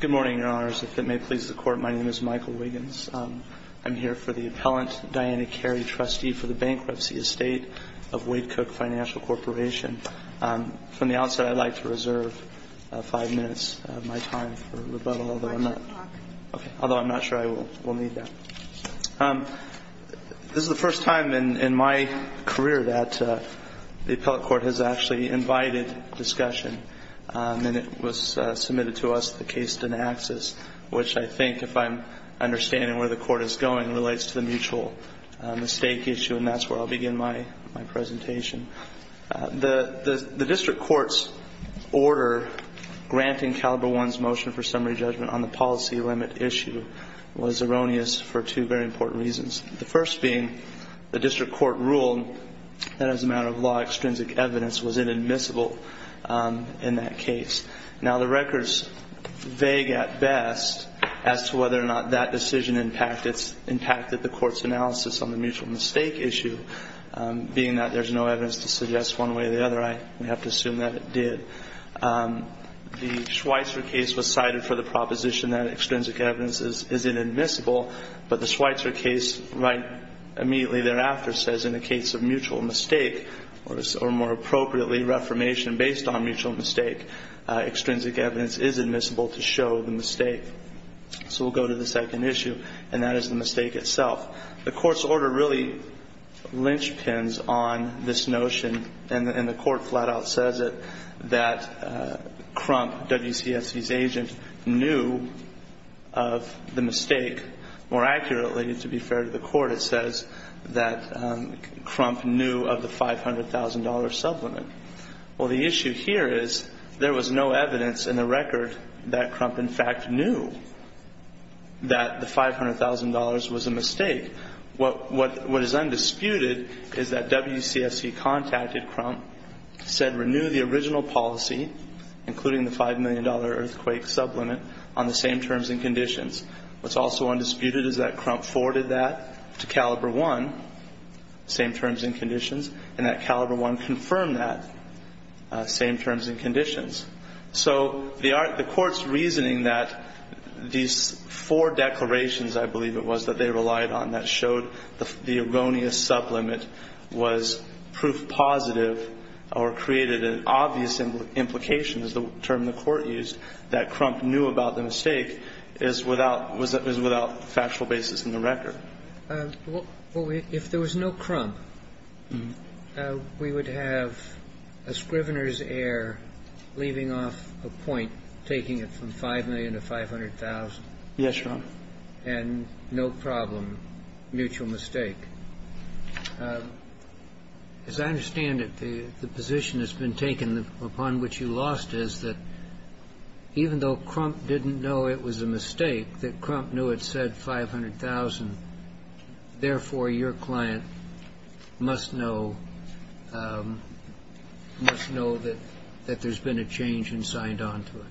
Good morning, Your Honors. If it may please the Court, my name is Michael Wiggins. I'm here for the Appellant Diana Carey, Trustee for the Bankruptcy Estate of Wade Cook Financial Corporation. From the outset, I'd like to reserve five minutes of my time for rebuttal, although I'm not sure I will need that. This is the first time in my career that the Appellate Court has actually invited discussion. And it was submitted to us, the case Dinaxis, which I think, if I'm understanding where the Court is going, relates to the mutual mistake issue, and that's where I'll begin my presentation. The District Court's order granting Caliber One's motion for summary judgment on the policy limit issue was erroneous for two very important reasons. The first being the District Court ruled that as a matter of law, extrinsic evidence was inadmissible in that case. Now, the record's vague at best as to whether or not that decision impacted the Court's analysis on the mutual mistake issue, being that there's no evidence to suggest one way or the other. We have to assume that it did. The Schweitzer case was cited for the proposition that extrinsic evidence is inadmissible. But the Schweitzer case right immediately thereafter says in the case of mutual mistake, or more appropriately, reformation based on mutual mistake, extrinsic evidence is admissible to show the mistake. So we'll go to the second issue, and that is the mistake itself. The Court's order really linchpins on this notion, and the Court flat out says it, that Crump, WCSC's agent, knew of the mistake. More accurately, to be fair to the Court, it says that Crump knew of the $500,000 sublimit. Well, the issue here is there was no evidence in the record that Crump, in fact, knew that the $500,000 was a mistake. What is undisputed is that WCSC contacted Crump, said renew the original policy, including the $5 million earthquake sublimit, on the same terms and conditions. What's also undisputed is that Crump forwarded that to Caliber 1, same terms and conditions, and that Caliber 1 confirmed that, same terms and conditions. So the Court's reasoning that these four declarations, I believe it was, that they relied on that showed the erroneous sublimit was proof positive or created an obvious implication, is the term the Court used, that Crump knew about the mistake is without factual basis in the record. Well, if there was no Crump, we would have a Scrivener's error leaving off a point taking it from $5 million to $500,000. Yes, Your Honor. And no problem, mutual mistake. As I understand it, the position that's been taken upon which you lost is that even though Crump didn't know it was a mistake, that Crump knew it said $500,000, therefore your client must know that there's been a change and signed on to it.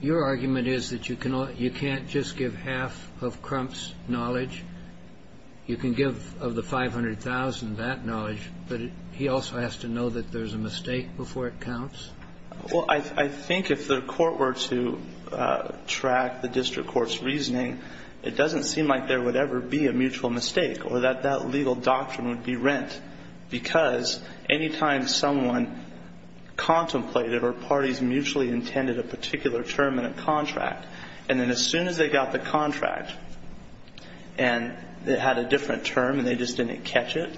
Your argument is that you can't just give half of Crump's knowledge. You can give of the $500,000 that knowledge, but he also has to know that there's a mistake before it counts? Well, I think if the Court were to track the district court's reasoning, it doesn't seem like there would ever be a mutual mistake or that that legal doctrine would be rent, because any time someone contemplated or parties mutually intended a particular term in a contract, and then as soon as they got the contract and it had a different term and they just didn't catch it,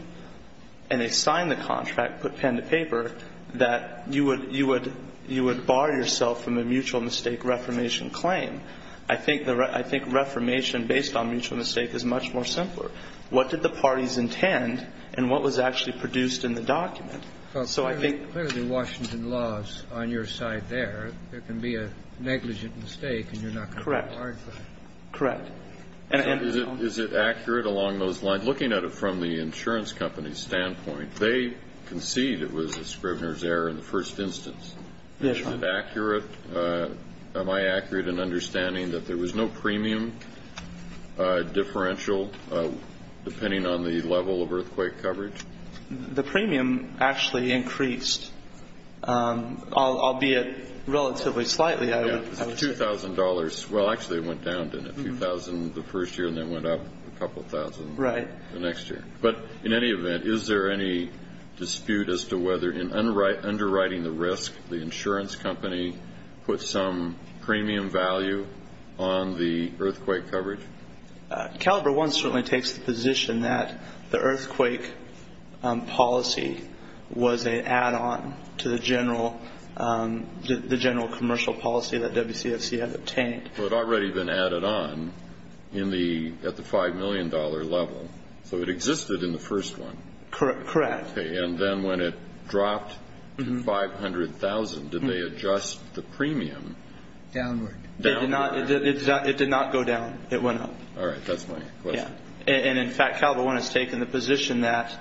and they signed the contract, put pen to paper, that you would bar yourself from a mutual mistake reformation claim. I think reformation based on mutual mistake is much more simpler. What did the parties intend and what was actually produced in the document? So I think the Washington laws on your side there, there can be a negligent mistake and you're not going to be barred from it. Correct. And is it accurate along those lines? Looking at it from the insurance company's standpoint, they concede it was a Scrivener's error in the first instance. Yes, Your Honor. Is that accurate? Am I accurate in understanding that there was no premium differential depending on the level of earthquake coverage? The premium actually increased, albeit relatively slightly. Yes, it was $2,000. Well, actually it went down to $2,000 the first year and then went up a couple thousand the next year. Right. But in any event, is there any dispute as to whether in underwriting the risk, the insurance company put some premium value on the earthquake coverage? Caliber 1 certainly takes the position that the earthquake policy was an add-on to the general commercial policy that WCFC had obtained. So it had already been added on at the $5 million level. So it existed in the first one. Correct. And then when it dropped to $500,000, did they adjust the premium? Downward. It did not go down. It went up. All right. That's my question. And in fact, Caliber 1 has taken the position that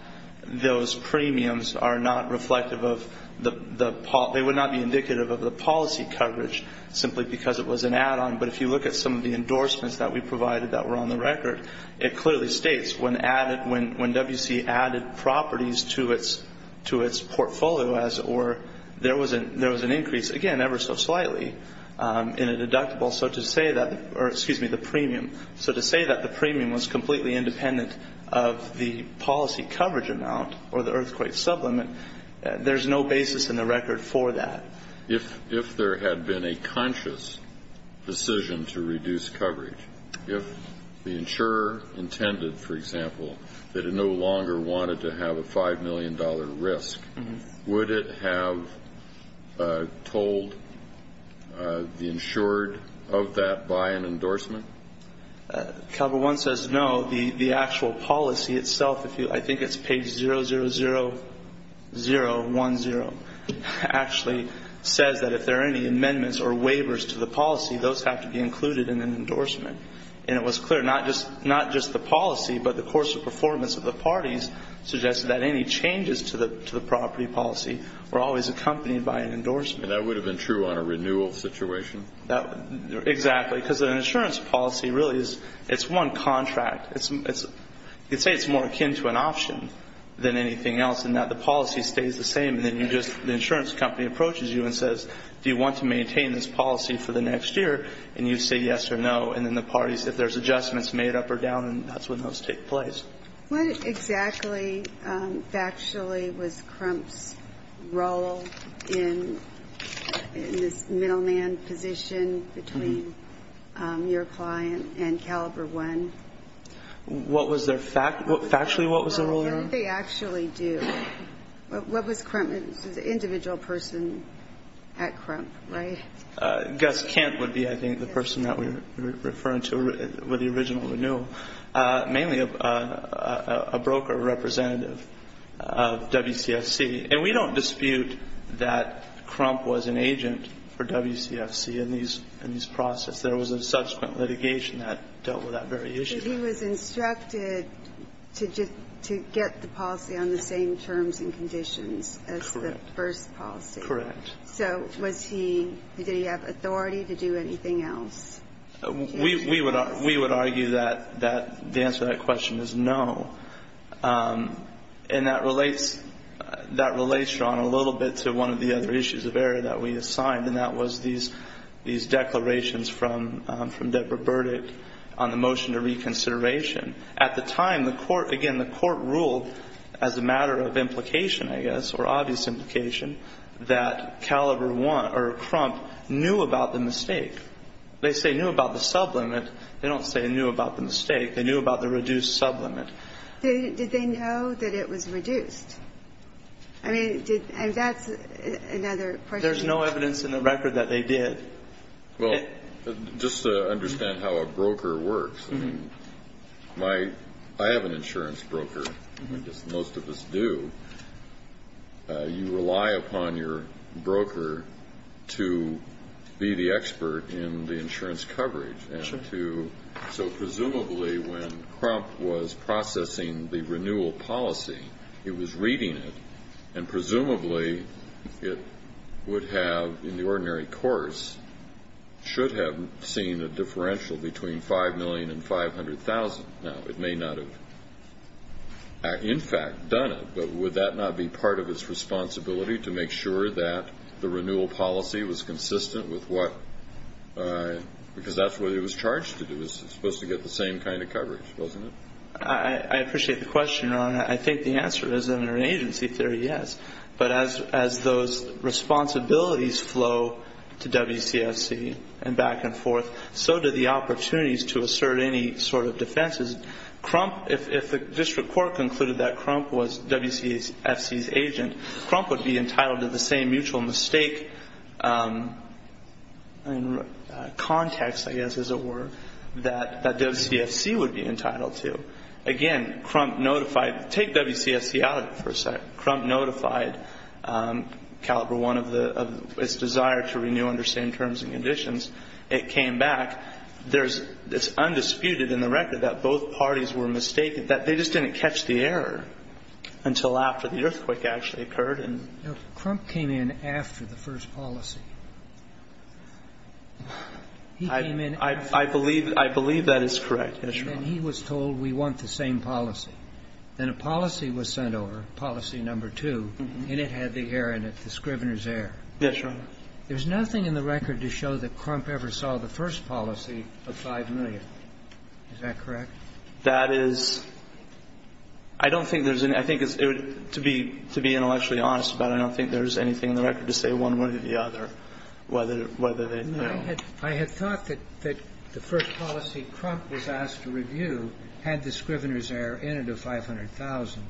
those premiums are not reflective of the policy. They may not be indicative of the policy coverage simply because it was an add-on. But if you look at some of the endorsements that we provided that were on the record, it clearly states when WC added properties to its portfolio, there was an increase, again, ever so slightly in a deductible. So to say that the premium was completely independent of the policy coverage amount or the earthquake supplement, there's no basis in the record for that. If there had been a conscious decision to reduce coverage, if the insurer intended, for example, that it no longer wanted to have a $5 million risk, would it have told the insured of that by an endorsement? Caliber 1 says no. The actual policy itself, I think it's page 00010, actually says that if there are any amendments or waivers to the policy, those have to be included in an endorsement. And it was clear, not just the policy, but the course of performance of the parties suggested that any changes to the property policy were always accompanied by an endorsement. And that would have been true on a renewal situation? Exactly. Because an insurance policy really is, it's one contract. It's, you could say it's more akin to an option than anything else, in that the policy stays the same. And then you just, the insurance company approaches you and says, do you want to maintain this policy for the next year? And you say yes or no. And then the parties, if there's adjustments made up or down, that's when those take place. What exactly factually was Crump's role in this middleman position between your client and Caliber 1? What was their, factually what was their role there? What did they actually do? What was Crump, this was an individual person at Crump, right? Gus Kent would be, I think, the person that we're referring to with the original renewal. Mainly a broker representative of WCFC. And we don't dispute that Crump was an agent for WCFC in these processes. There was a subsequent litigation that dealt with that very issue. But he was instructed to get the policy on the same terms and conditions as the first policy. Correct. So was he, did he have authority to do anything else? We would argue that the answer to that question is no. And that relates, Your Honor, a little bit to one of the other issues of error that we assigned, and that was these declarations from Deborah Burdick on the motion to reconsideration. At the time, the court, again, the court ruled as a matter of implication, I guess, or obvious implication, that Caliber 1 or Crump knew about the mistake. They say knew about the sublimit. They don't say knew about the mistake. They knew about the reduced sublimit. Did they know that it was reduced? I mean, that's another question. There's no evidence in the record that they did. Well, just to understand how a broker works, I mean, I have an insurance broker. I guess most of us do. You rely upon your broker to be the expert in the insurance coverage. So presumably when Crump was processing the renewal policy, he was reading it, and presumably it would have, in the ordinary course, should have seen a differential between $5 million and $500,000. Now, it may not have, in fact, done it, but would that not be part of its responsibility to make sure that the renewal policy was consistent with what because that's what it was charged to do. It was supposed to get the same kind of coverage, wasn't it? I appreciate the question, Ron. I think the answer is, under an agency theory, yes. But as those responsibilities flow to WCFC and back and forth, so do the opportunities to assert any sort of defenses. Crump, if the district court concluded that Crump was WCFC's agent, Crump would be entitled to the same mutual mistake in context, I guess is a word, that WCFC would be entitled to. Again, Crump notified. Take WCFC out of it for a second. Crump notified Caliber 1 of its desire to renew under the same terms and conditions. It came back. It's undisputed in the record that both parties were mistaken, that they just didn't catch the error until after the earthquake actually occurred. Now, Crump came in after the first policy. He came in after the first policy. I believe that is correct. Yes, Your Honor. And he was told, we want the same policy. Then a policy was sent over, policy number two, and it had the error in it, the Scrivener's error. Yes, Your Honor. There's nothing in the record to show that Crump ever saw the first policy of 5 million. Is that correct? That is — I don't think there's any — I think it's — to be intellectually honest about it, I don't think there's anything in the record to say one way or the other whether they know. I had thought that the first policy Crump was asked to review had the Scrivener's error in it of 500,000.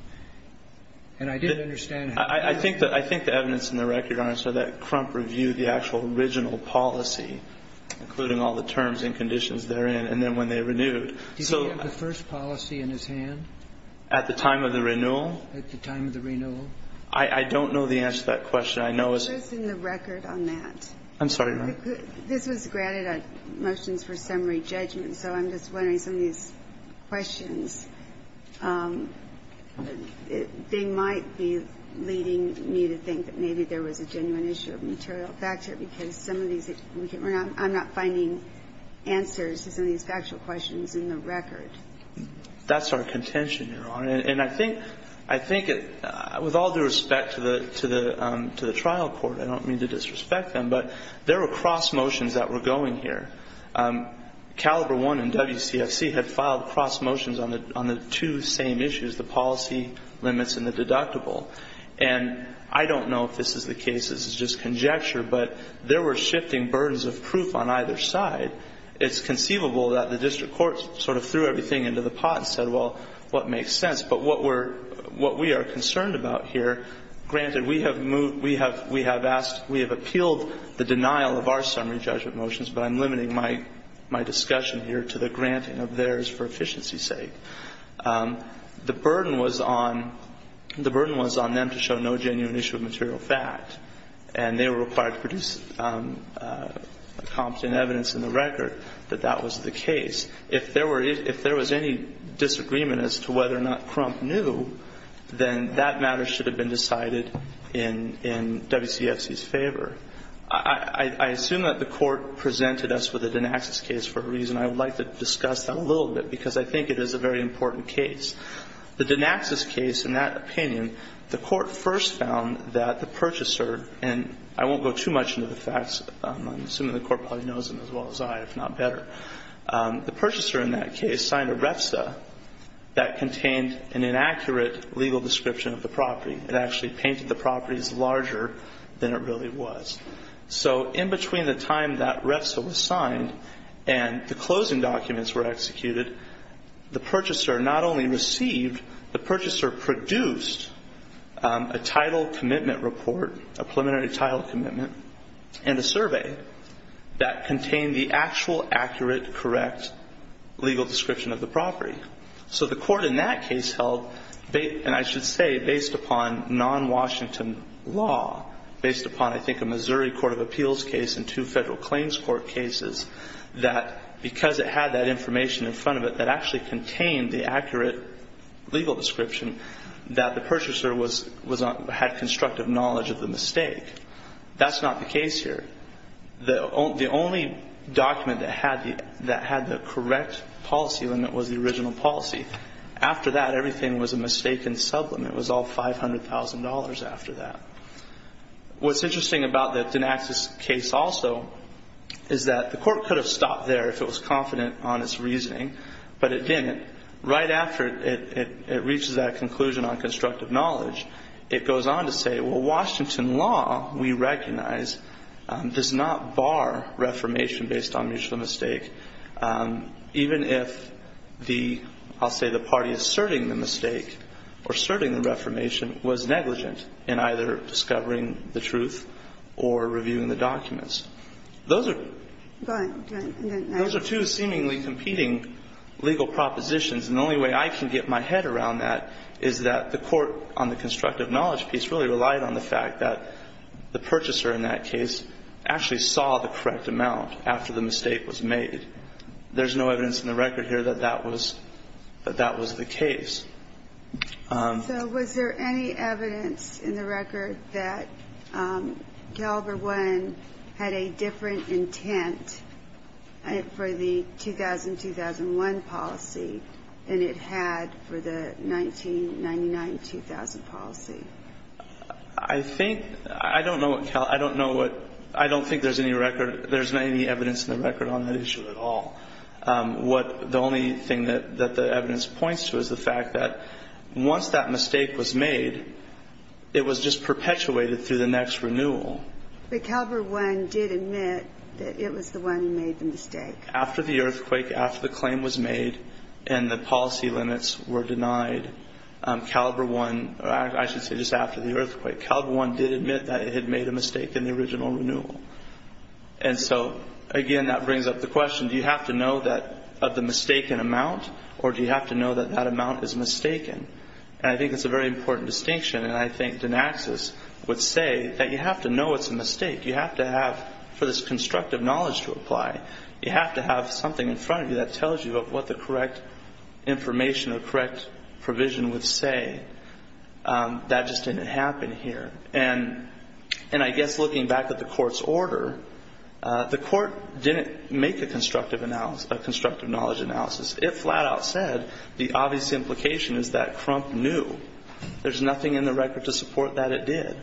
And I didn't understand how — I think the evidence in the record, Your Honor, is that Crump reviewed the actual original policy, including all the terms and conditions therein, and then when they renewed. Did he have the first policy in his hand? At the time of the renewal? At the time of the renewal. I don't know the answer to that question. I know it's — What's in the record on that? I'm sorry, Your Honor. This was granted motions for summary judgment, so I'm just wondering, some of these factual questions, they might be leading me to think that maybe there was a genuine issue of material factor, because some of these — I'm not finding answers to some of these factual questions in the record. That's our contention, Your Honor. And I think — I think with all due respect to the trial court, I don't mean to disrespect them, but there were cross motions that were going here. Caliber 1 and WCFC had filed cross motions on the two same issues, the policy limits and the deductible. And I don't know if this is the case, this is just conjecture, but there were shifting burdens of proof on either side. It's conceivable that the district court sort of threw everything into the pot and said, well, what makes sense? But what we're — what we are concerned about here, granted we have moved — we have asked — we have appealed the denial of our summary judgment motions, but I'm limiting my discussion here to the granting of theirs for efficiency's sake. The burden was on — the burden was on them to show no genuine issue of material fact, and they were required to produce competent evidence in the record that that was the case. If there were — if there was any disagreement as to whether or not Crump knew, then that matter should have been decided in WCFC's favor. I assume that the Court presented us with a Dinaxis case for a reason. I would like to discuss that a little bit, because I think it is a very important case. The Dinaxis case, in that opinion, the Court first found that the purchaser — and I won't go too much into the facts. I'm assuming the Court probably knows them as well as I, if not better. The purchaser in that case signed a REFSA that contained an inaccurate legal description of the property. It actually painted the properties larger than it really was. So in between the time that REFSA was signed and the closing documents were executed, the purchaser not only received, the purchaser produced a title commitment report, a preliminary title commitment, and a survey that contained the actual accurate, correct legal description of the property. So the Court in that case held, and I should say based upon non-Washington law, based upon, I think, a Missouri court of appeals case and two federal claims court cases, that because it had that information in front of it that actually contained the accurate legal description, that the purchaser had constructive knowledge of the mistake. That's not the case here. The only document that had the correct policy limit was the original policy. After that, everything was a mistaken sublimate. It was all $500,000 after that. What's interesting about the Dinaxis case also is that the Court could have stopped there if it was confident on its reasoning, but it didn't. Right after it reaches that conclusion on constructive knowledge, it goes on to say, well, Washington law, we recognize, does not bar reformation based on mutual knowledge of the mistake, even if the, I'll say the party asserting the mistake or asserting the reformation was negligent in either discovering the truth or reviewing the documents. Those are two seemingly competing legal propositions. And the only way I can get my head around that is that the Court on the constructive knowledge piece really relied on the fact that the purchaser in that case actually saw the correct amount after the mistake was made. There's no evidence in the record here that that was the case. So was there any evidence in the record that Caliber 1 had a different intent for the 2000-2001 policy than it had for the 1999-2000 policy? I think, I don't know what Cal, I don't know what, I don't think there's any record, there's not any evidence in the record on that issue at all. What, the only thing that the evidence points to is the fact that once that mistake was made, it was just perpetuated through the next renewal. But Caliber 1 did admit that it was the one who made the mistake. After the earthquake, after the claim was made and the policy limits were denied, Caliber 1, or I should say just after the earthquake, Caliber 1 did admit that it had made a mistake in the original renewal. And so, again, that brings up the question, do you have to know that, of the mistaken amount, or do you have to know that that amount is mistaken? And I think that's a very important distinction, and I think Dinaxis would say that you have to know it's a mistake. You have to have, for this constructive knowledge to apply, you have to have something in front of you that tells you of what the correct information or correct provision would say. That just didn't happen here. And I guess looking back at the court's order, the court didn't make a constructive knowledge analysis. It flat out said the obvious implication is that Crump knew. There's nothing in the record to support that it did.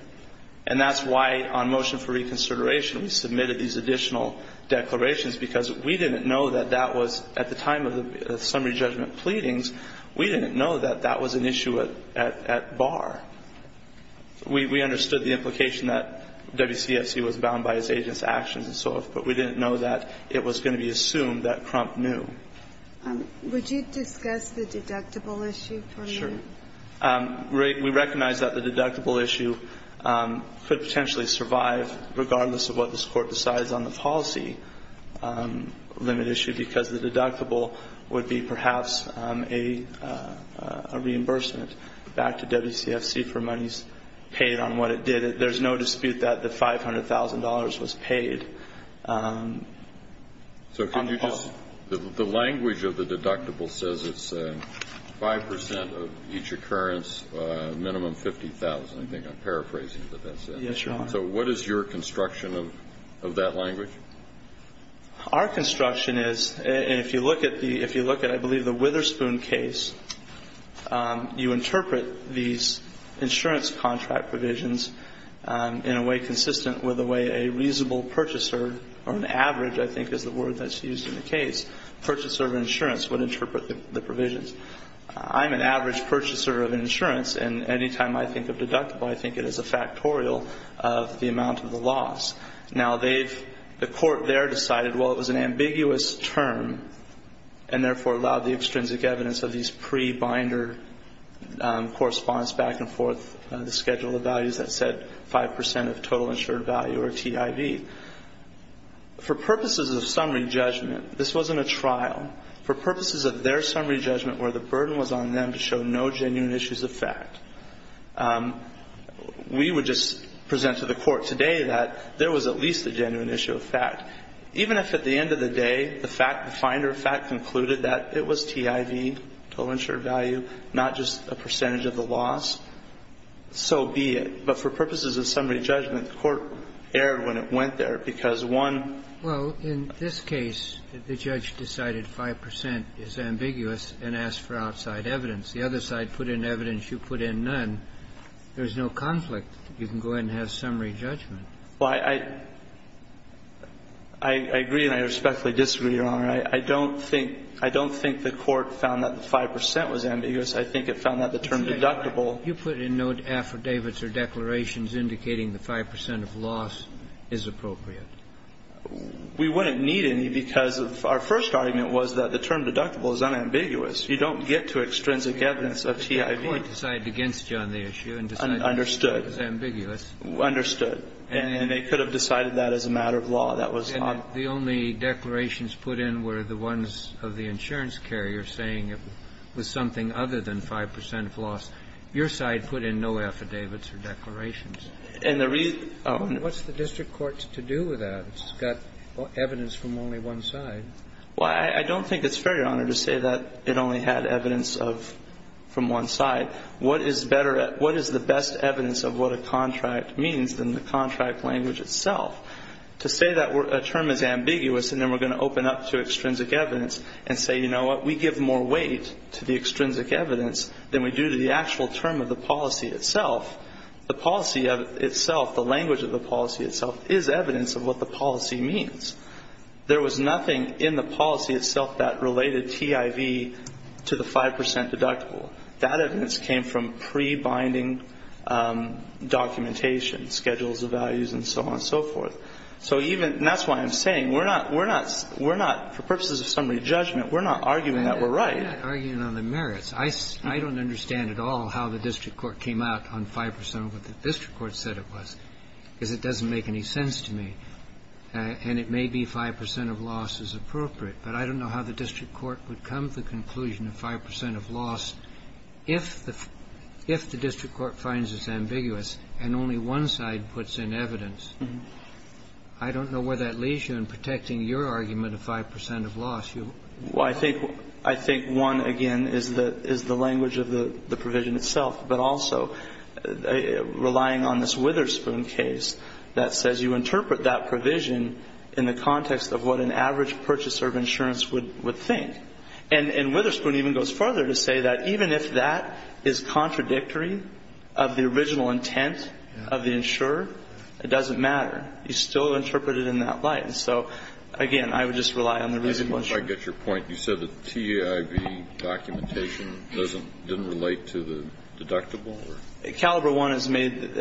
And that's why, on motion for reconsideration, we submitted these additional declarations because we didn't know that that was, at the time of the summary judgment pleadings, we didn't know that that was an issue at bar. We understood the implication that WCFC was bound by its agent's actions and so forth, but we didn't know that it was going to be assumed that Crump knew. Would you discuss the deductible issue for a moment? Sure. We recognize that the deductible issue could potentially survive, regardless of what this Court decides on the policy limit issue, because the deductible would be perhaps a reimbursement back to WCFC for monies paid on what it did. There's no dispute that the $500,000 was paid on the policy. The language of the deductible says it's 5% of each occurrence, minimum 50,000. I think I'm paraphrasing what that says. Yes, Your Honor. So what is your construction of that language? Our construction is, and if you look at, I believe, the Witherspoon case, you interpret these insurance contract provisions in a way consistent with the way a reasonable purchaser or an average, I think is the word that's used in the case, purchaser of insurance would interpret the provisions. I'm an average purchaser of insurance, and any time I think of deductible, I think it is a factorial of the amount of the loss. Now, the Court there decided, well, it was an ambiguous term, and therefore allowed the extrinsic evidence of these pre-binder correspondence back and forth, the schedule of values that said 5% of total insured value or TIV. For purposes of summary judgment, this wasn't a trial. For purposes of their summary judgment where the burden was on them to show no genuine issues of fact, we would just present to the Court today that there was at least a genuine issue of fact. Even if at the end of the day, the fact, the finder of fact concluded that it was TIV, total insured value, not just a percentage of the loss, so be it. But for purposes of summary judgment, the Court erred when it went there because one of the issues of fact was TIV. Well, in this case, the judge decided 5% is ambiguous and asked for outside evidence. The other side put in evidence. You put in none. There's no conflict. You can go ahead and have summary judgment. Well, I agree and I respectfully disagree, Your Honor. I don't think the Court found that the 5% was ambiguous. I think it found that the term deductible. You put in no affidavits or declarations indicating the 5% of loss is appropriate. We wouldn't need any because our first argument was that the term deductible is unambiguous. You don't get to extrinsic evidence of TIV. The Court decided against you on the issue and decided 5% is ambiguous. Understood. Understood. And they could have decided that as a matter of law. That was not. And the only declarations put in were the ones of the insurance carrier saying it was something other than 5% of loss. Your side put in no affidavits or declarations. And the reason – What's the district court to do with that? It's got evidence from only one side. Well, I don't think it's fair, Your Honor, to say that it only had evidence from one side. What is better – what is the best evidence of what a contract means than the contract language itself? To say that a term is ambiguous and then we're going to open up to extrinsic evidence and say, you know what, we give more weight to the extrinsic evidence than we do to the actual term of the policy itself, the policy itself, the language of the policy itself, is evidence of what the policy means. There was nothing in the policy itself that related TIV to the 5% deductible. That evidence came from pre-binding documentation, schedules of values and so on and so forth. So even – and that's why I'm saying we're not – we're not – for purposes of summary judgment, we're not arguing that we're right. We're not arguing on the merits. I don't understand at all how the district court came out on 5% of what the district court said it was, because it doesn't make any sense to me. And it may be 5% of loss is appropriate, but I don't know how the district court would come to the conclusion of 5% of loss if the – if the district court finds this ambiguous and only one side puts in evidence. I don't know where that leads you in protecting your argument of 5% of loss. You – Well, I think – I think one, again, is the – is the language of the provision itself, but also relying on this Witherspoon case that says you interpret that provision in the context of what an average purchaser of insurance would – would think. And – and Witherspoon even goes further to say that even if that is contradictory of the original intent of the insurer, it doesn't matter. You still interpret it in that light. And so, again, I would just rely on the reasonable insurance. I get your point. You said the TEIV documentation doesn't – didn't relate to the deductible or – Caliber One has made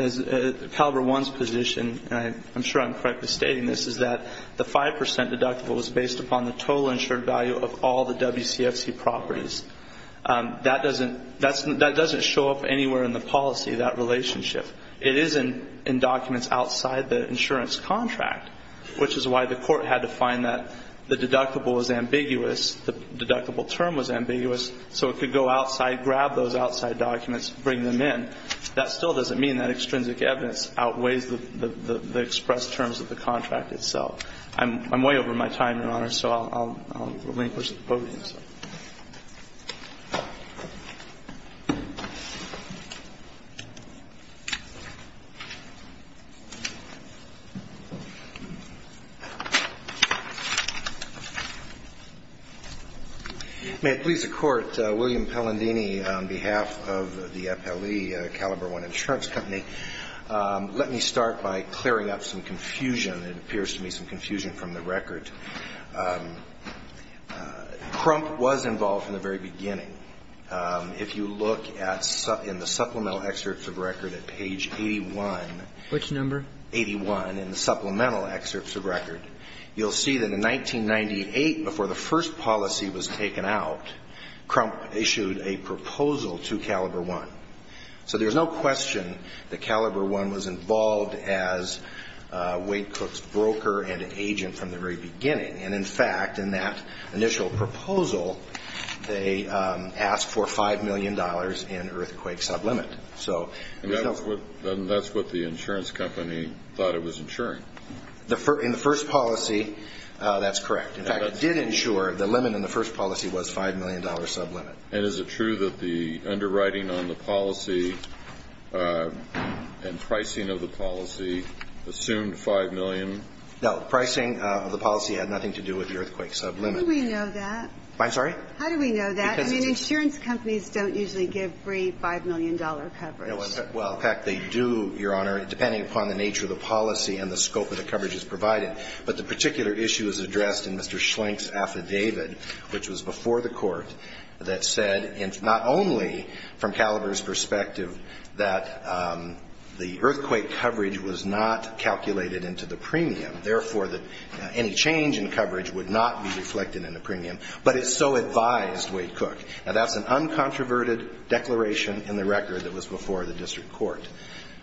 – Caliber One's position, and I'm sure I'm correctly stating this, is that the 5% deductible was based upon the total insured value of all the WCFC properties. That doesn't – that's – that doesn't show up anywhere in the policy, that relationship. It is in documents outside the insurance contract, which is why the court had to find that the deductible was ambiguous, the deductible term was ambiguous, so it could go outside, grab those outside documents, bring them in. That still doesn't mean that extrinsic evidence outweighs the – the expressed terms of the contract itself. I'm – I'm way over my time, Your Honor, so I'll relinquish the podium. May it please the Court, William Pellandini, on behalf of the FLE, Caliber One Insurance Company, let me start by clearing up some confusion. It appears to me some confusion from the record. Crump was involved from the very beginning. If you look at – in the supplemental excerpts of record at page 81. Which number? 81 in the supplemental excerpts of record, you'll see that in 1998, before the first policy was taken out, Crump issued a proposal to Caliber One. So there's no question that Caliber One was involved as Wade Cook's broker and agent from the very beginning. And, in fact, in that initial proposal, they asked for $5 million in earthquake sublimit. And that's what the insurance company thought it was insuring? In the first policy, that's correct. In fact, it did insure – the limit in the first policy was $5 million sublimit. And is it true that the underwriting on the policy and pricing of the policy assumed $5 million? No. Pricing of the policy had nothing to do with the earthquake sublimit. How do we know that? I'm sorry? How do we know that? I mean, insurance companies don't usually give free $5 million coverage. Well, in fact, they do, Your Honor, depending upon the nature of the policy and the scope of the coverage that's provided. But the particular issue is addressed in Mr. Schlenk's affidavit, which was before the Court, that said not only from Caliber's perspective that the earthquake coverage was not calculated into the premium, therefore, that any change in coverage would not be reflected in the premium, but it so advised Wade Cook. Now, that's an uncontroverted declaration in the record that was before the district court.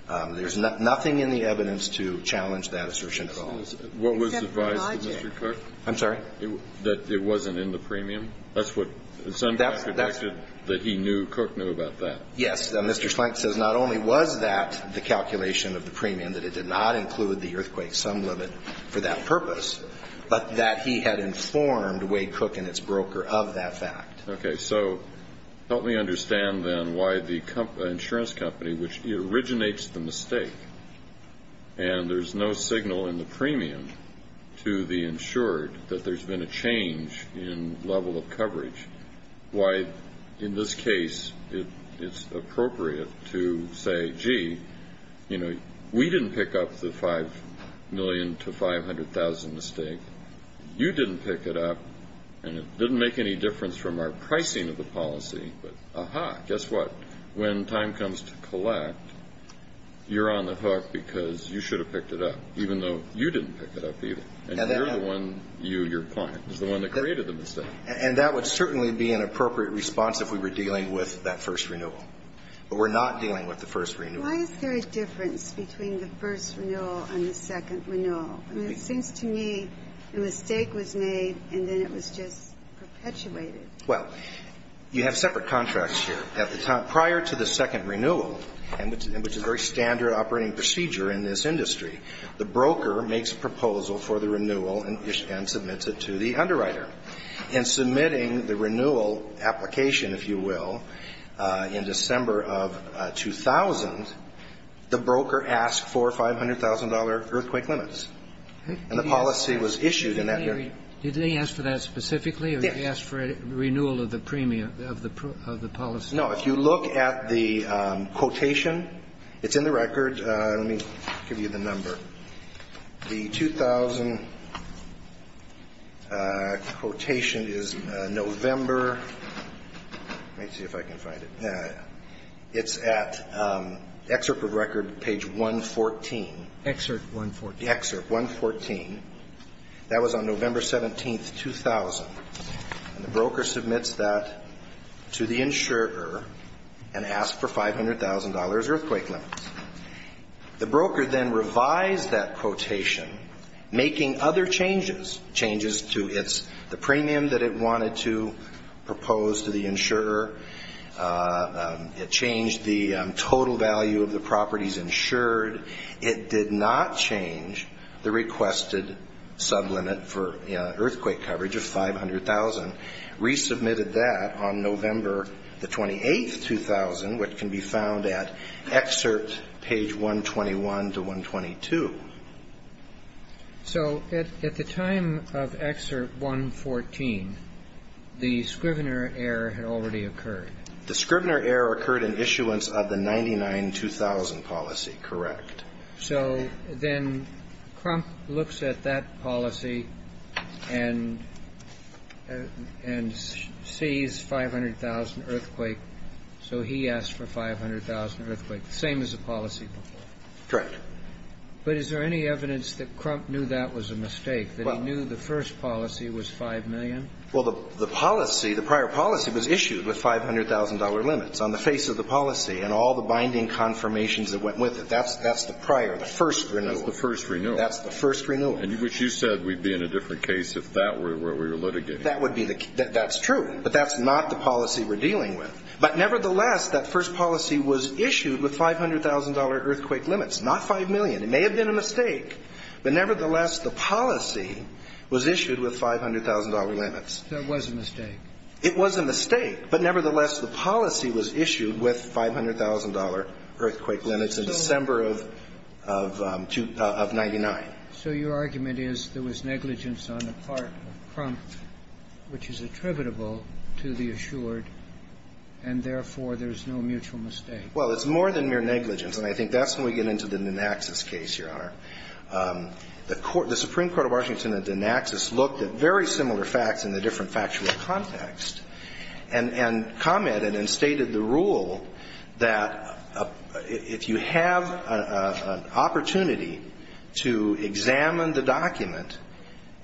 There's nothing in the evidence to challenge that assertion at all. What was advised to Mr. Cook? I'm sorry? That it wasn't in the premium. That's what – that he knew Cook knew about that. Yes. Mr. Schlenk says not only was that the calculation of the premium, that it did not include the earthquake sum limit for that purpose, but that he had informed Wade Cook and its broker of that fact. Okay. So help me understand, then, why the insurance company, which originates the mistake, and there's no signal in the premium to the insured that there's been a change in level of coverage. Why, in this case, it's appropriate to say, gee, you know, we didn't pick up the $5 million to $500,000 mistake. You didn't pick it up, and it didn't make any difference from our pricing of the policy. But, aha, guess what? When time comes to collect, you're on the hook because you should have picked it up, even though you didn't pick it up either. And you're the one – you, your client, is the one that created the mistake. And that would certainly be an appropriate response if we were dealing with that first renewal. But we're not dealing with the first renewal. Why is there a difference between the first renewal and the second renewal? I mean, it seems to me a mistake was made, and then it was just perpetuated. Well, you have separate contracts here. Prior to the second renewal, which is a very standard operating procedure in this case, the broker submits the renewal and submits it to the underwriter. In submitting the renewal application, if you will, in December of 2000, the broker asked for $500,000 earthquake limits. And the policy was issued in that year. Did they ask for that specifically, or did they ask for a renewal of the premium of the policy? Now, if you look at the quotation, it's in the record. Let me give you the number. The 2000 quotation is November – let me see if I can find it. It's at excerpt of record, page 114. Excerpt 114. Excerpt 114. That was on November 17th, 2000. The broker submits that to the insurer and asks for $500,000 earthquake limits. The broker then revised that quotation, making other changes. Changes to the premium that it wanted to propose to the insurer. It changed the total value of the properties insured. It did not change the requested sublimit for earthquake coverage of $500,000. Resubmitted that on November 28th, 2000, which can be found at excerpt page 121 to 122. So at the time of excerpt 114, the Scrivener error had already occurred. The Scrivener error occurred in issuance of the 99-2000 policy. Correct. So then Crump looks at that policy and sees $500,000 earthquake, so he asks for $500,000 earthquake. Same as the policy before. Correct. But is there any evidence that Crump knew that was a mistake, that he knew the first policy was $5 million? Well, the policy, the prior policy was issued with $500,000 limits on the face of the policy and all the binding confirmations that went with it. That's the prior, the first renewal. That's the first renewal. That's the first renewal. Which you said we'd be in a different case if that were what we were litigating. That's true. But that's not the policy we're dealing with. But nevertheless, that first policy was issued with $500,000 earthquake limits, not $5 million. It may have been a mistake. But nevertheless, the policy was issued with $500,000 limits. That was a mistake. It was a mistake. But nevertheless, the policy was issued with $500,000 earthquake limits in December of 1999. So your argument is there was negligence on the part of Crump which is attributable to the assured, and therefore, there's no mutual mistake. Well, it's more than mere negligence. And I think that's when we get into the Dinaxis case, Your Honor. The Supreme Court of Washington at Dinaxis looked at very similar facts in a different factual context and commented and stated the rule that if you have an opportunity to examine the document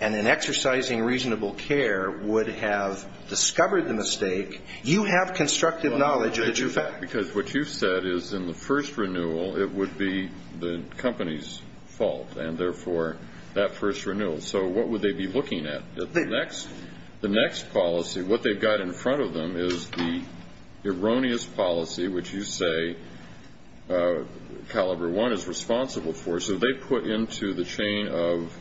and in exercising reasonable care would have discovered the mistake, you have constructive knowledge of the true fact. Because what you've said is in the first renewal, it would be the company's fault and therefore, that first renewal. So what would they be looking at? The next policy, what they've got in front of them is the erroneous policy which you say Caliber 1 is responsible for. So they put into the chain of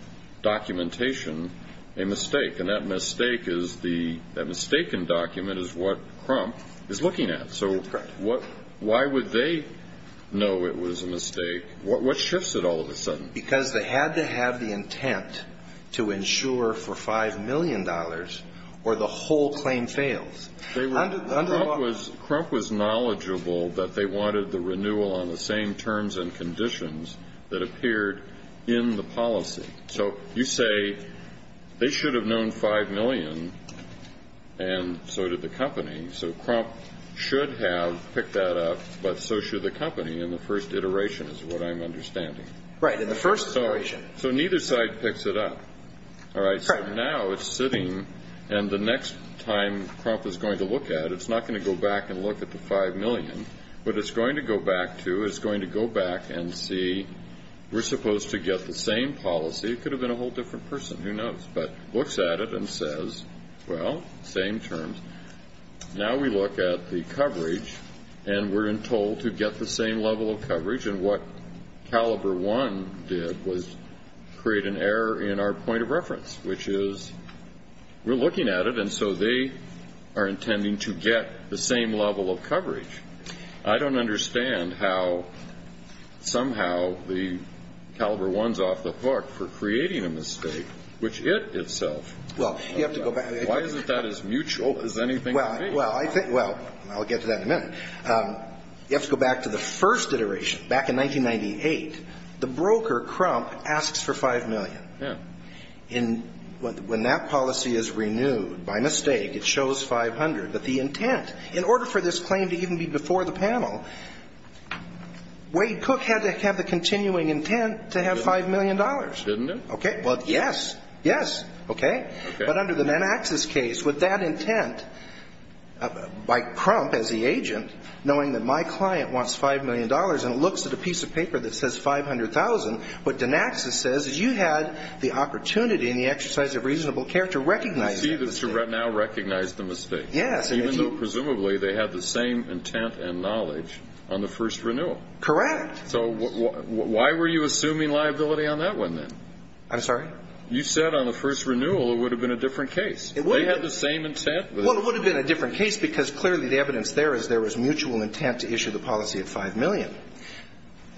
documentation a mistake. And that mistake is the mistaken document is what Crump is looking at. Correct. So why would they know it was a mistake? What shifts it all of a sudden? Because they had to have the intent to insure for $5 million or the whole claim fails. Crump was knowledgeable that they wanted the renewal on the same terms and conditions that appeared in the policy. So you say they should have known $5 million and so did the company. So Crump should have picked that up, but so should the company in the first iteration is what I'm understanding. Right. In the first iteration. So neither side picks it up. Correct. All right. So now it's sitting and the next time Crump is going to look at it, it's not going to go back and look at the $5 million. What it's going to go back to is going to go back and see we're supposed to get the same policy. It could have been a whole different person. Who knows? But looks at it and says, well, same terms. Now we look at the coverage and we're told to get the same level of coverage, and what Caliber 1 did was create an error in our point of reference, which is we're looking at it and so they are intending to get the same level of coverage. I don't understand how somehow the Caliber 1 is off the hook for creating a mistake, which it itself. Well, you have to go back. Why isn't that as mutual as anything? Well, I'll get to that in a minute. You have to go back to the first iteration, back in 1998. The broker, Crump, asks for $5 million. Yeah. When that policy is renewed, by mistake it shows $500. But the intent, in order for this claim to even be before the panel, Wade Cook had to have the continuing intent to have $5 million. Didn't he? Okay. Well, yes. Yes. Okay. But under the Dinaxis case, with that intent, by Crump as the agent, knowing that my client wants $5 million and looks at a piece of paper that says $500,000, what Dinaxis says is you had the opportunity and the exercise of reasonable care to recognize the mistake. To now recognize the mistake. Yes. Even though presumably they had the same intent and knowledge on the first renewal. Correct. So why were you assuming liability on that one, then? I'm sorry? You said on the first renewal it would have been a different case. It would have. They had the same intent. Well, it would have been a different case because clearly the evidence there is there was mutual intent to issue the policy at $5 million.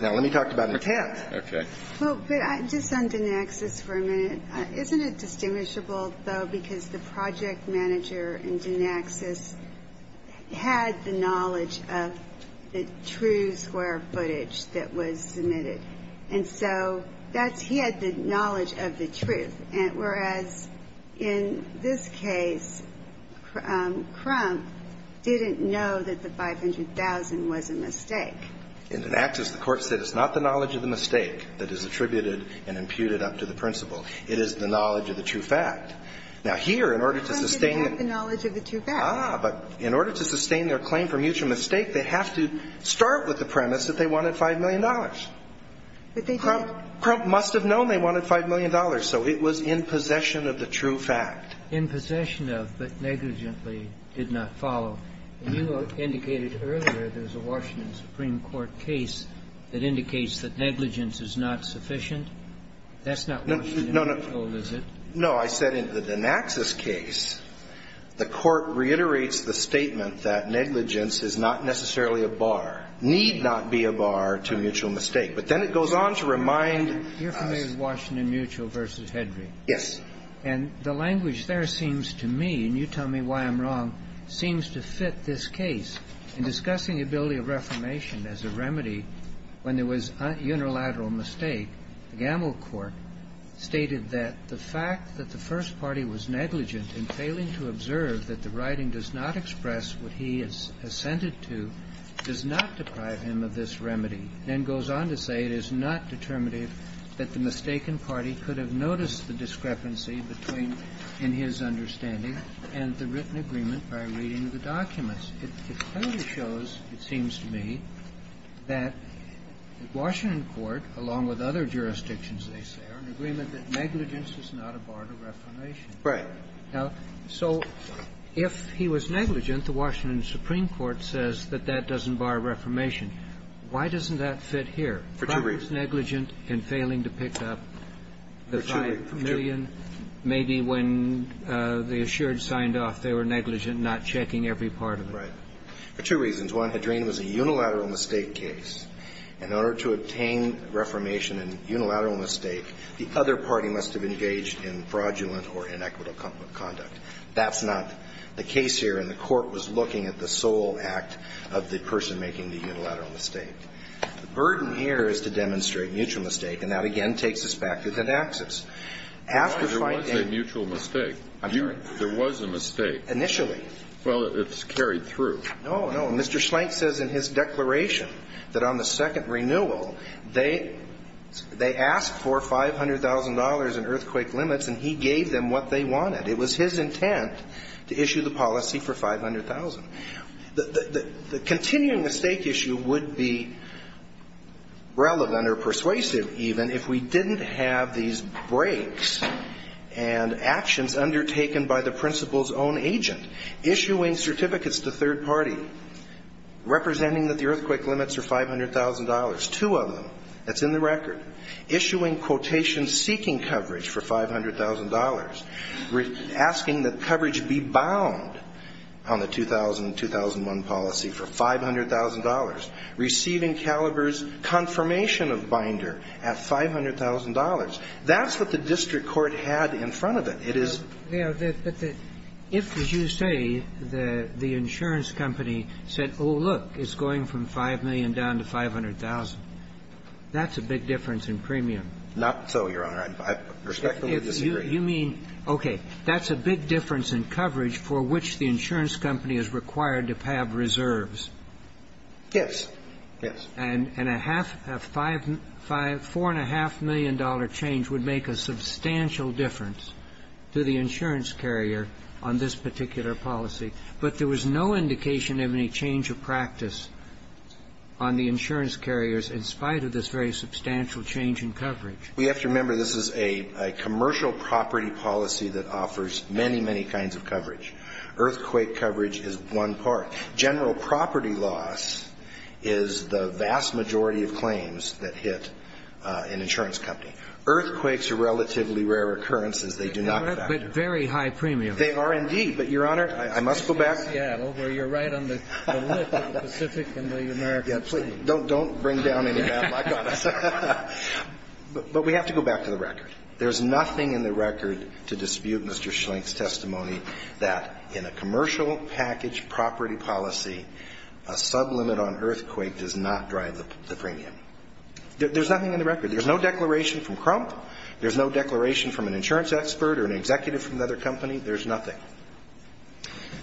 Now, let me talk about intent. Okay. I'm going to go back to the Dinaxis case, because the project manager in Dinaxis had the knowledge of the true square footage that was submitted. And so that's he had the knowledge of the truth, whereas in this case, Crump didn't know that the $500,000 was a mistake. In Dinaxis, the court said it's not the knowledge of the mistake that is attributed and imputed up to the principal. It is the knowledge of the true fact. Now, here, in order to sustain the – How did he have the knowledge of the true fact? Ah, but in order to sustain their claim for mutual mistake, they have to start with the premise that they wanted $5 million. But they didn't. Crump must have known they wanted $5 million. So it was in possession of the true fact. In possession of, but negligently did not follow. And you indicated earlier there's a Washington Supreme Court case that indicates that negligence is not sufficient. That's not what was told, is it? No, I said in the Dinaxis case, the court reiterates the statement that negligence is not necessarily a bar, need not be a bar to mutual mistake. But then it goes on to remind us – You're familiar with Washington Mutual v. Hendry? Yes. And the language there seems to me, and you tell me why I'm wrong, seems to fit this case. In discussing the ability of reformation as a remedy when there was unilateral mistake, Gamble Court stated that the fact that the first party was negligent in failing to observe that the writing does not express what he is assented to does not deprive him of this remedy. Then goes on to say it is not determinative that the mistaken party could have noticed the discrepancy between in his understanding and the written agreement by reading the documents. It clearly shows, it seems to me, that Washington court, along with other jurisdictions, they say, are in agreement that negligence is not a bar to reformation. Right. Now, so if he was negligent, the Washington Supreme Court says that that doesn't bar reformation. Why doesn't that fit here? For two reasons. If he was negligent in failing to pick up the 5 million, maybe when the assured not checking every part of it. Right. For two reasons. One, Hadrian was a unilateral mistake case. In order to obtain reformation in unilateral mistake, the other party must have engaged in fraudulent or inequitable conduct. That's not the case here, and the Court was looking at the sole act of the person making the unilateral mistake. The burden here is to demonstrate mutual mistake, and that, again, takes us back to Thaddakis. After fighting a mutual mistake. I'm sorry. There was a mistake. Initially. Well, it's carried through. No, no. Mr. Schlenk says in his declaration that on the second renewal, they asked for $500,000 in earthquake limits, and he gave them what they wanted. It was his intent to issue the policy for 500,000. The continuing mistake issue would be relevant or persuasive, even, if we didn't have these breaks and actions undertaken by the principal's own agent. Issuing certificates to third party, representing that the earthquake limits are $500,000. Two of them. That's in the record. Issuing quotations seeking coverage for $500,000. Asking that coverage be bound on the 2000-2001 policy for $500,000. Receiving Caliber's confirmation of Binder at $500,000. That's what the district court had in front of it. It is. But if, as you say, the insurance company said, oh, look, it's going from 5 million down to 500,000, that's a big difference in premium. Not so, Your Honor. I respectfully disagree. You mean, okay, that's a big difference in coverage for which the insurance company is required to have reserves. Yes. Yes. And a half, a $4.5 million change would make a substantial difference to the insurance carrier on this particular policy. But there was no indication of any change of practice on the insurance carriers in spite of this very substantial change in coverage. We have to remember this is a commercial property policy that offers many, many kinds of coverage. Earthquake coverage is one part. General property loss is the vast majority of claims that hit an insurance company. Earthquakes are relatively rare occurrences. They do not factor. But very high premium. They are, indeed. But, Your Honor, I must go back. You're in Seattle, where you're right on the lip of the Pacific and the American Sea. Don't bring down any map. I got this. But we have to go back to the record. There's nothing in the record to dispute Mr. Schlenk's testimony that in a commercial package property policy, a sublimit on earthquake does not drive the premium. There's nothing in the record. There's no declaration from Crump. There's no declaration from an insurance expert or an executive from another company. There's nothing.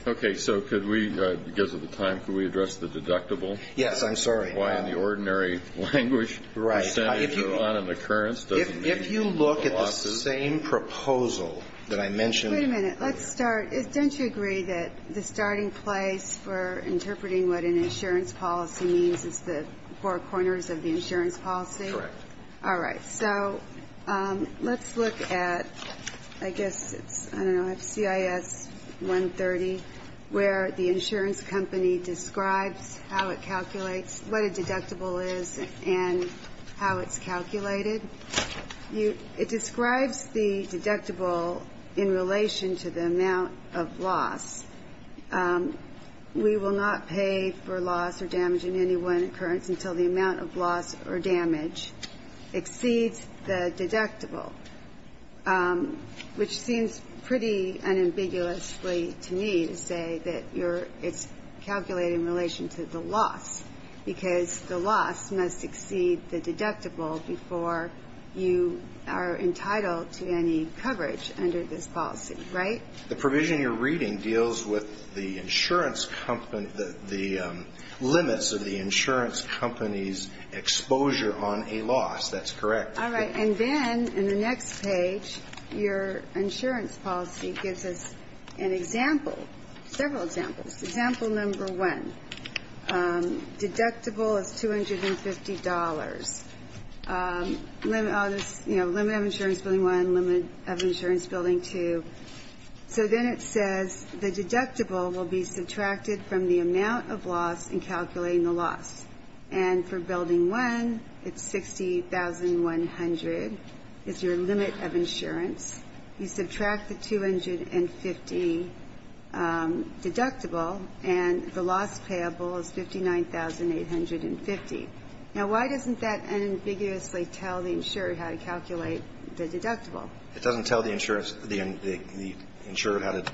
Okay. So could we, because of the time, could we address the deductible? Yes. I'm sorry. Why, in the ordinary language, percentage on an occurrence doesn't mean pluses. But if you look at the same proposal that I mentioned. Wait a minute. Let's start. Don't you agree that the starting place for interpreting what an insurance policy means is the four corners of the insurance policy? Correct. All right. So let's look at, I guess it's, I don't know, CIS 130, where the insurance company describes how it calculates, what a deductible is, and how it's calculated. It describes the deductible in relation to the amount of loss. We will not pay for loss or damage in any one occurrence until the amount of loss or damage exceeds the deductible, which seems pretty unambiguously to me to say that it's calculated in relation to the loss, because the loss must exceed the deductible before you are entitled to any coverage under this policy. Right? The provision you're reading deals with the insurance company, the limits of the insurance company's exposure on a loss. That's correct. All right. And then in the next page, your insurance policy gives us an example, several examples. Example number one, deductible is $250. You know, limit of insurance building one, limit of insurance building two. So then it says the deductible will be subtracted from the amount of loss in calculating the loss. And for building one, it's 60,100 is your limit of insurance. You subtract the 250 deductible, and the loss payable is 59,850. Now, why doesn't that unambiguously tell the insurer how to calculate the deductible? It doesn't tell the insurer how to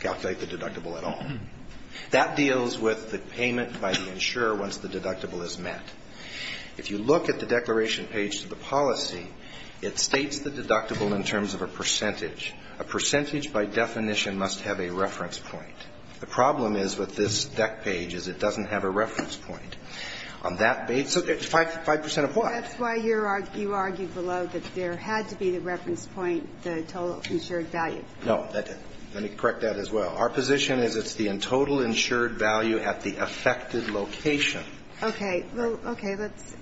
calculate the deductible at all. That deals with the payment by the insurer once the deductible is met. If you look at the declaration page to the policy, it states the deductible in terms of a percentage. A percentage, by definition, must have a reference point. The problem is with this deck page is it doesn't have a reference point. On that basis, 5 percent of what? That's why you argued below that there had to be the reference point, the total insured value. No, that didn't. Let me correct that as well. Our position is it's the total insured value at the affected location. Okay. Well, okay. That's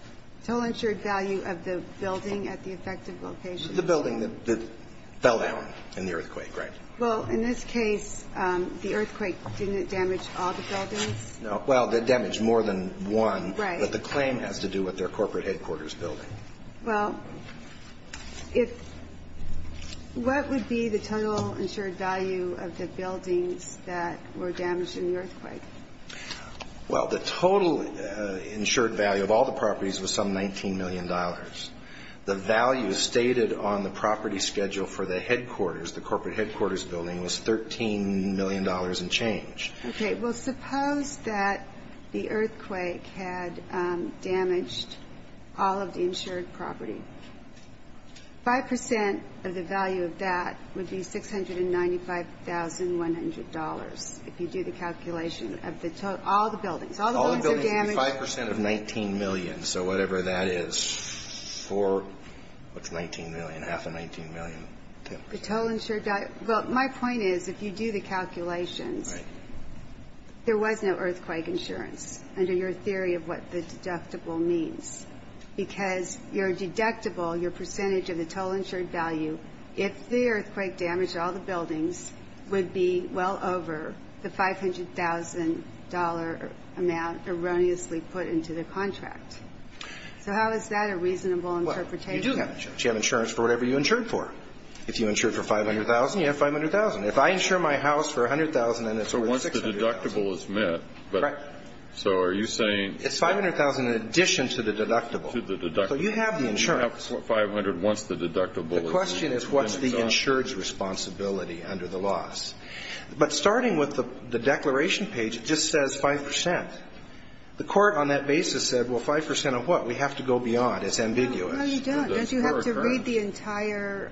total insured value of the building at the affected location. The building that fell down in the earthquake, right? Well, in this case, the earthquake didn't damage all the buildings? No. Well, it damaged more than one. Right. But the claim has to do with their corporate headquarters building. Well, if what would be the total insured value of the buildings that were damaged in the earthquake? Well, the total insured value of all the properties was some $19 million. The value stated on the property schedule for the headquarters, the corporate headquarters building, was $13 million and change. Okay. Well, suppose that the earthquake had damaged all of the insured property. 5 percent of the value of that would be $695,100 if you do the calculation of the total, all the buildings. All the buildings would be 5 percent of $19 million, so whatever that is for what's $19 million, half of $19 million. The total insured value. Well, my point is, if you do the calculations, there was no earthquake insurance under your theory of what the deductible means because your deductible, your percentage of the total insured value, if the earthquake damaged all the buildings, would be well over the $500,000 amount erroneously put into the contract. So how is that a reasonable interpretation? Well, you do have insurance. You have insurance for whatever you insured for. If you insured for $500,000, you have $500,000. If I insure my house for $100,000 and it's worth $600,000. So once the deductible is met. Right. So are you saying? It's $500,000 in addition to the deductible. To the deductible. So you have the insurance. You have $500,000 once the deductible is met. The question is, what's the insured's responsibility under the loss? But starting with the declaration page, it just says 5%. The Court on that basis said, well, 5% of what? We have to go beyond. It's ambiguous. No, you don't. Don't you have to read the entire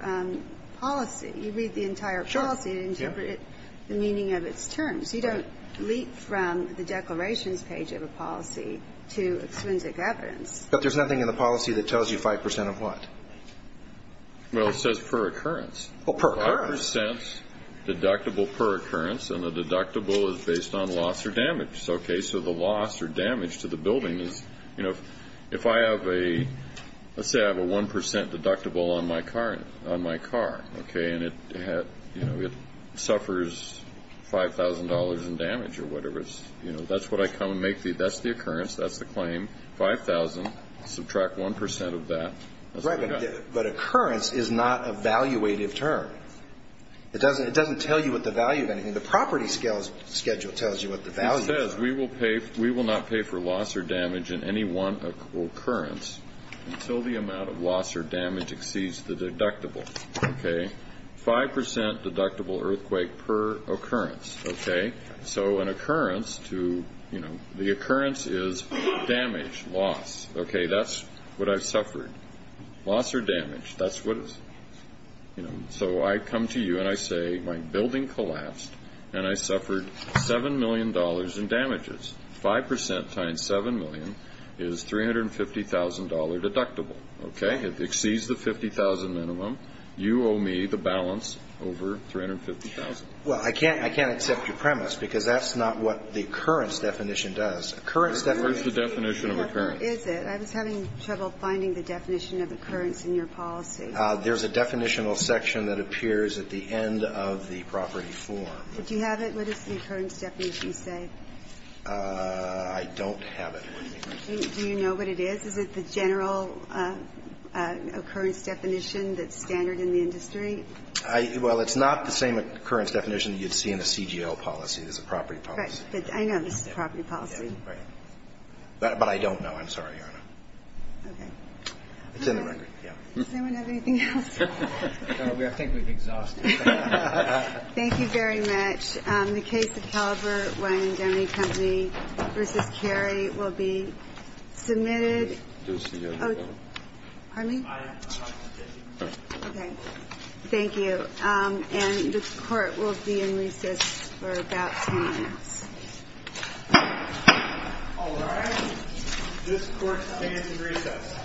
policy? You read the entire policy and interpret the meaning of its terms. You don't leap from the declarations page of a policy to exquisite evidence. But there's nothing in the policy that tells you 5% of what? Well, it says per occurrence. Oh, per occurrence. 5% deductible per occurrence, and the deductible is based on loss or damage. Okay, so the loss or damage to the building is, you know, if I have a, let's say I have a 1% deductible on my car, okay, and it suffers $5,000 in damage or whatever, that's what I come and make the, that's the occurrence, that's the claim, $5,000, subtract 1% of that. Right, but occurrence is not a valuative term. It doesn't tell you what the value of anything. The property schedule tells you what the value is. It says we will not pay for loss or damage in any one occurrence until the amount of loss or damage exceeds the deductible, okay? 5% deductible earthquake per occurrence, okay? So an occurrence to, you know, the occurrence is damage, loss. Okay, that's what I've suffered. Loss or damage, that's what it's, you know. So I come to you and I say my building collapsed and I suffered $7 million in damages. 5% times $7 million is $350,000 deductible, okay? It exceeds the $50,000 minimum. You owe me the balance over $350,000. Well, I can't, I can't accept your premise because that's not what the occurrence definition does. Occurrence definition. What is the definition of occurrence? Is it? I was having trouble finding the definition of occurrence in your policy. There's a definitional section that appears at the end of the property form. Do you have it? What does the occurrence definition say? I don't have it. Do you know what it is? Is it the general occurrence definition that's standard in the industry? Well, it's not the same occurrence definition you'd see in a CGL policy. It's a property policy. Right. I know this is a property policy. Right. But I don't know. I'm sorry, Your Honor. Okay. It's in the record. Yeah. Does anyone have anything else? No, I think we've exhausted it. Thank you very much. The case of Calabert Wine and Doughney Company v. Cary will be submitted. Do we still have the bill? Pardon me? Okay. Thank you. And this Court will be in recess for about 10 minutes. All right. This Court stands in recess.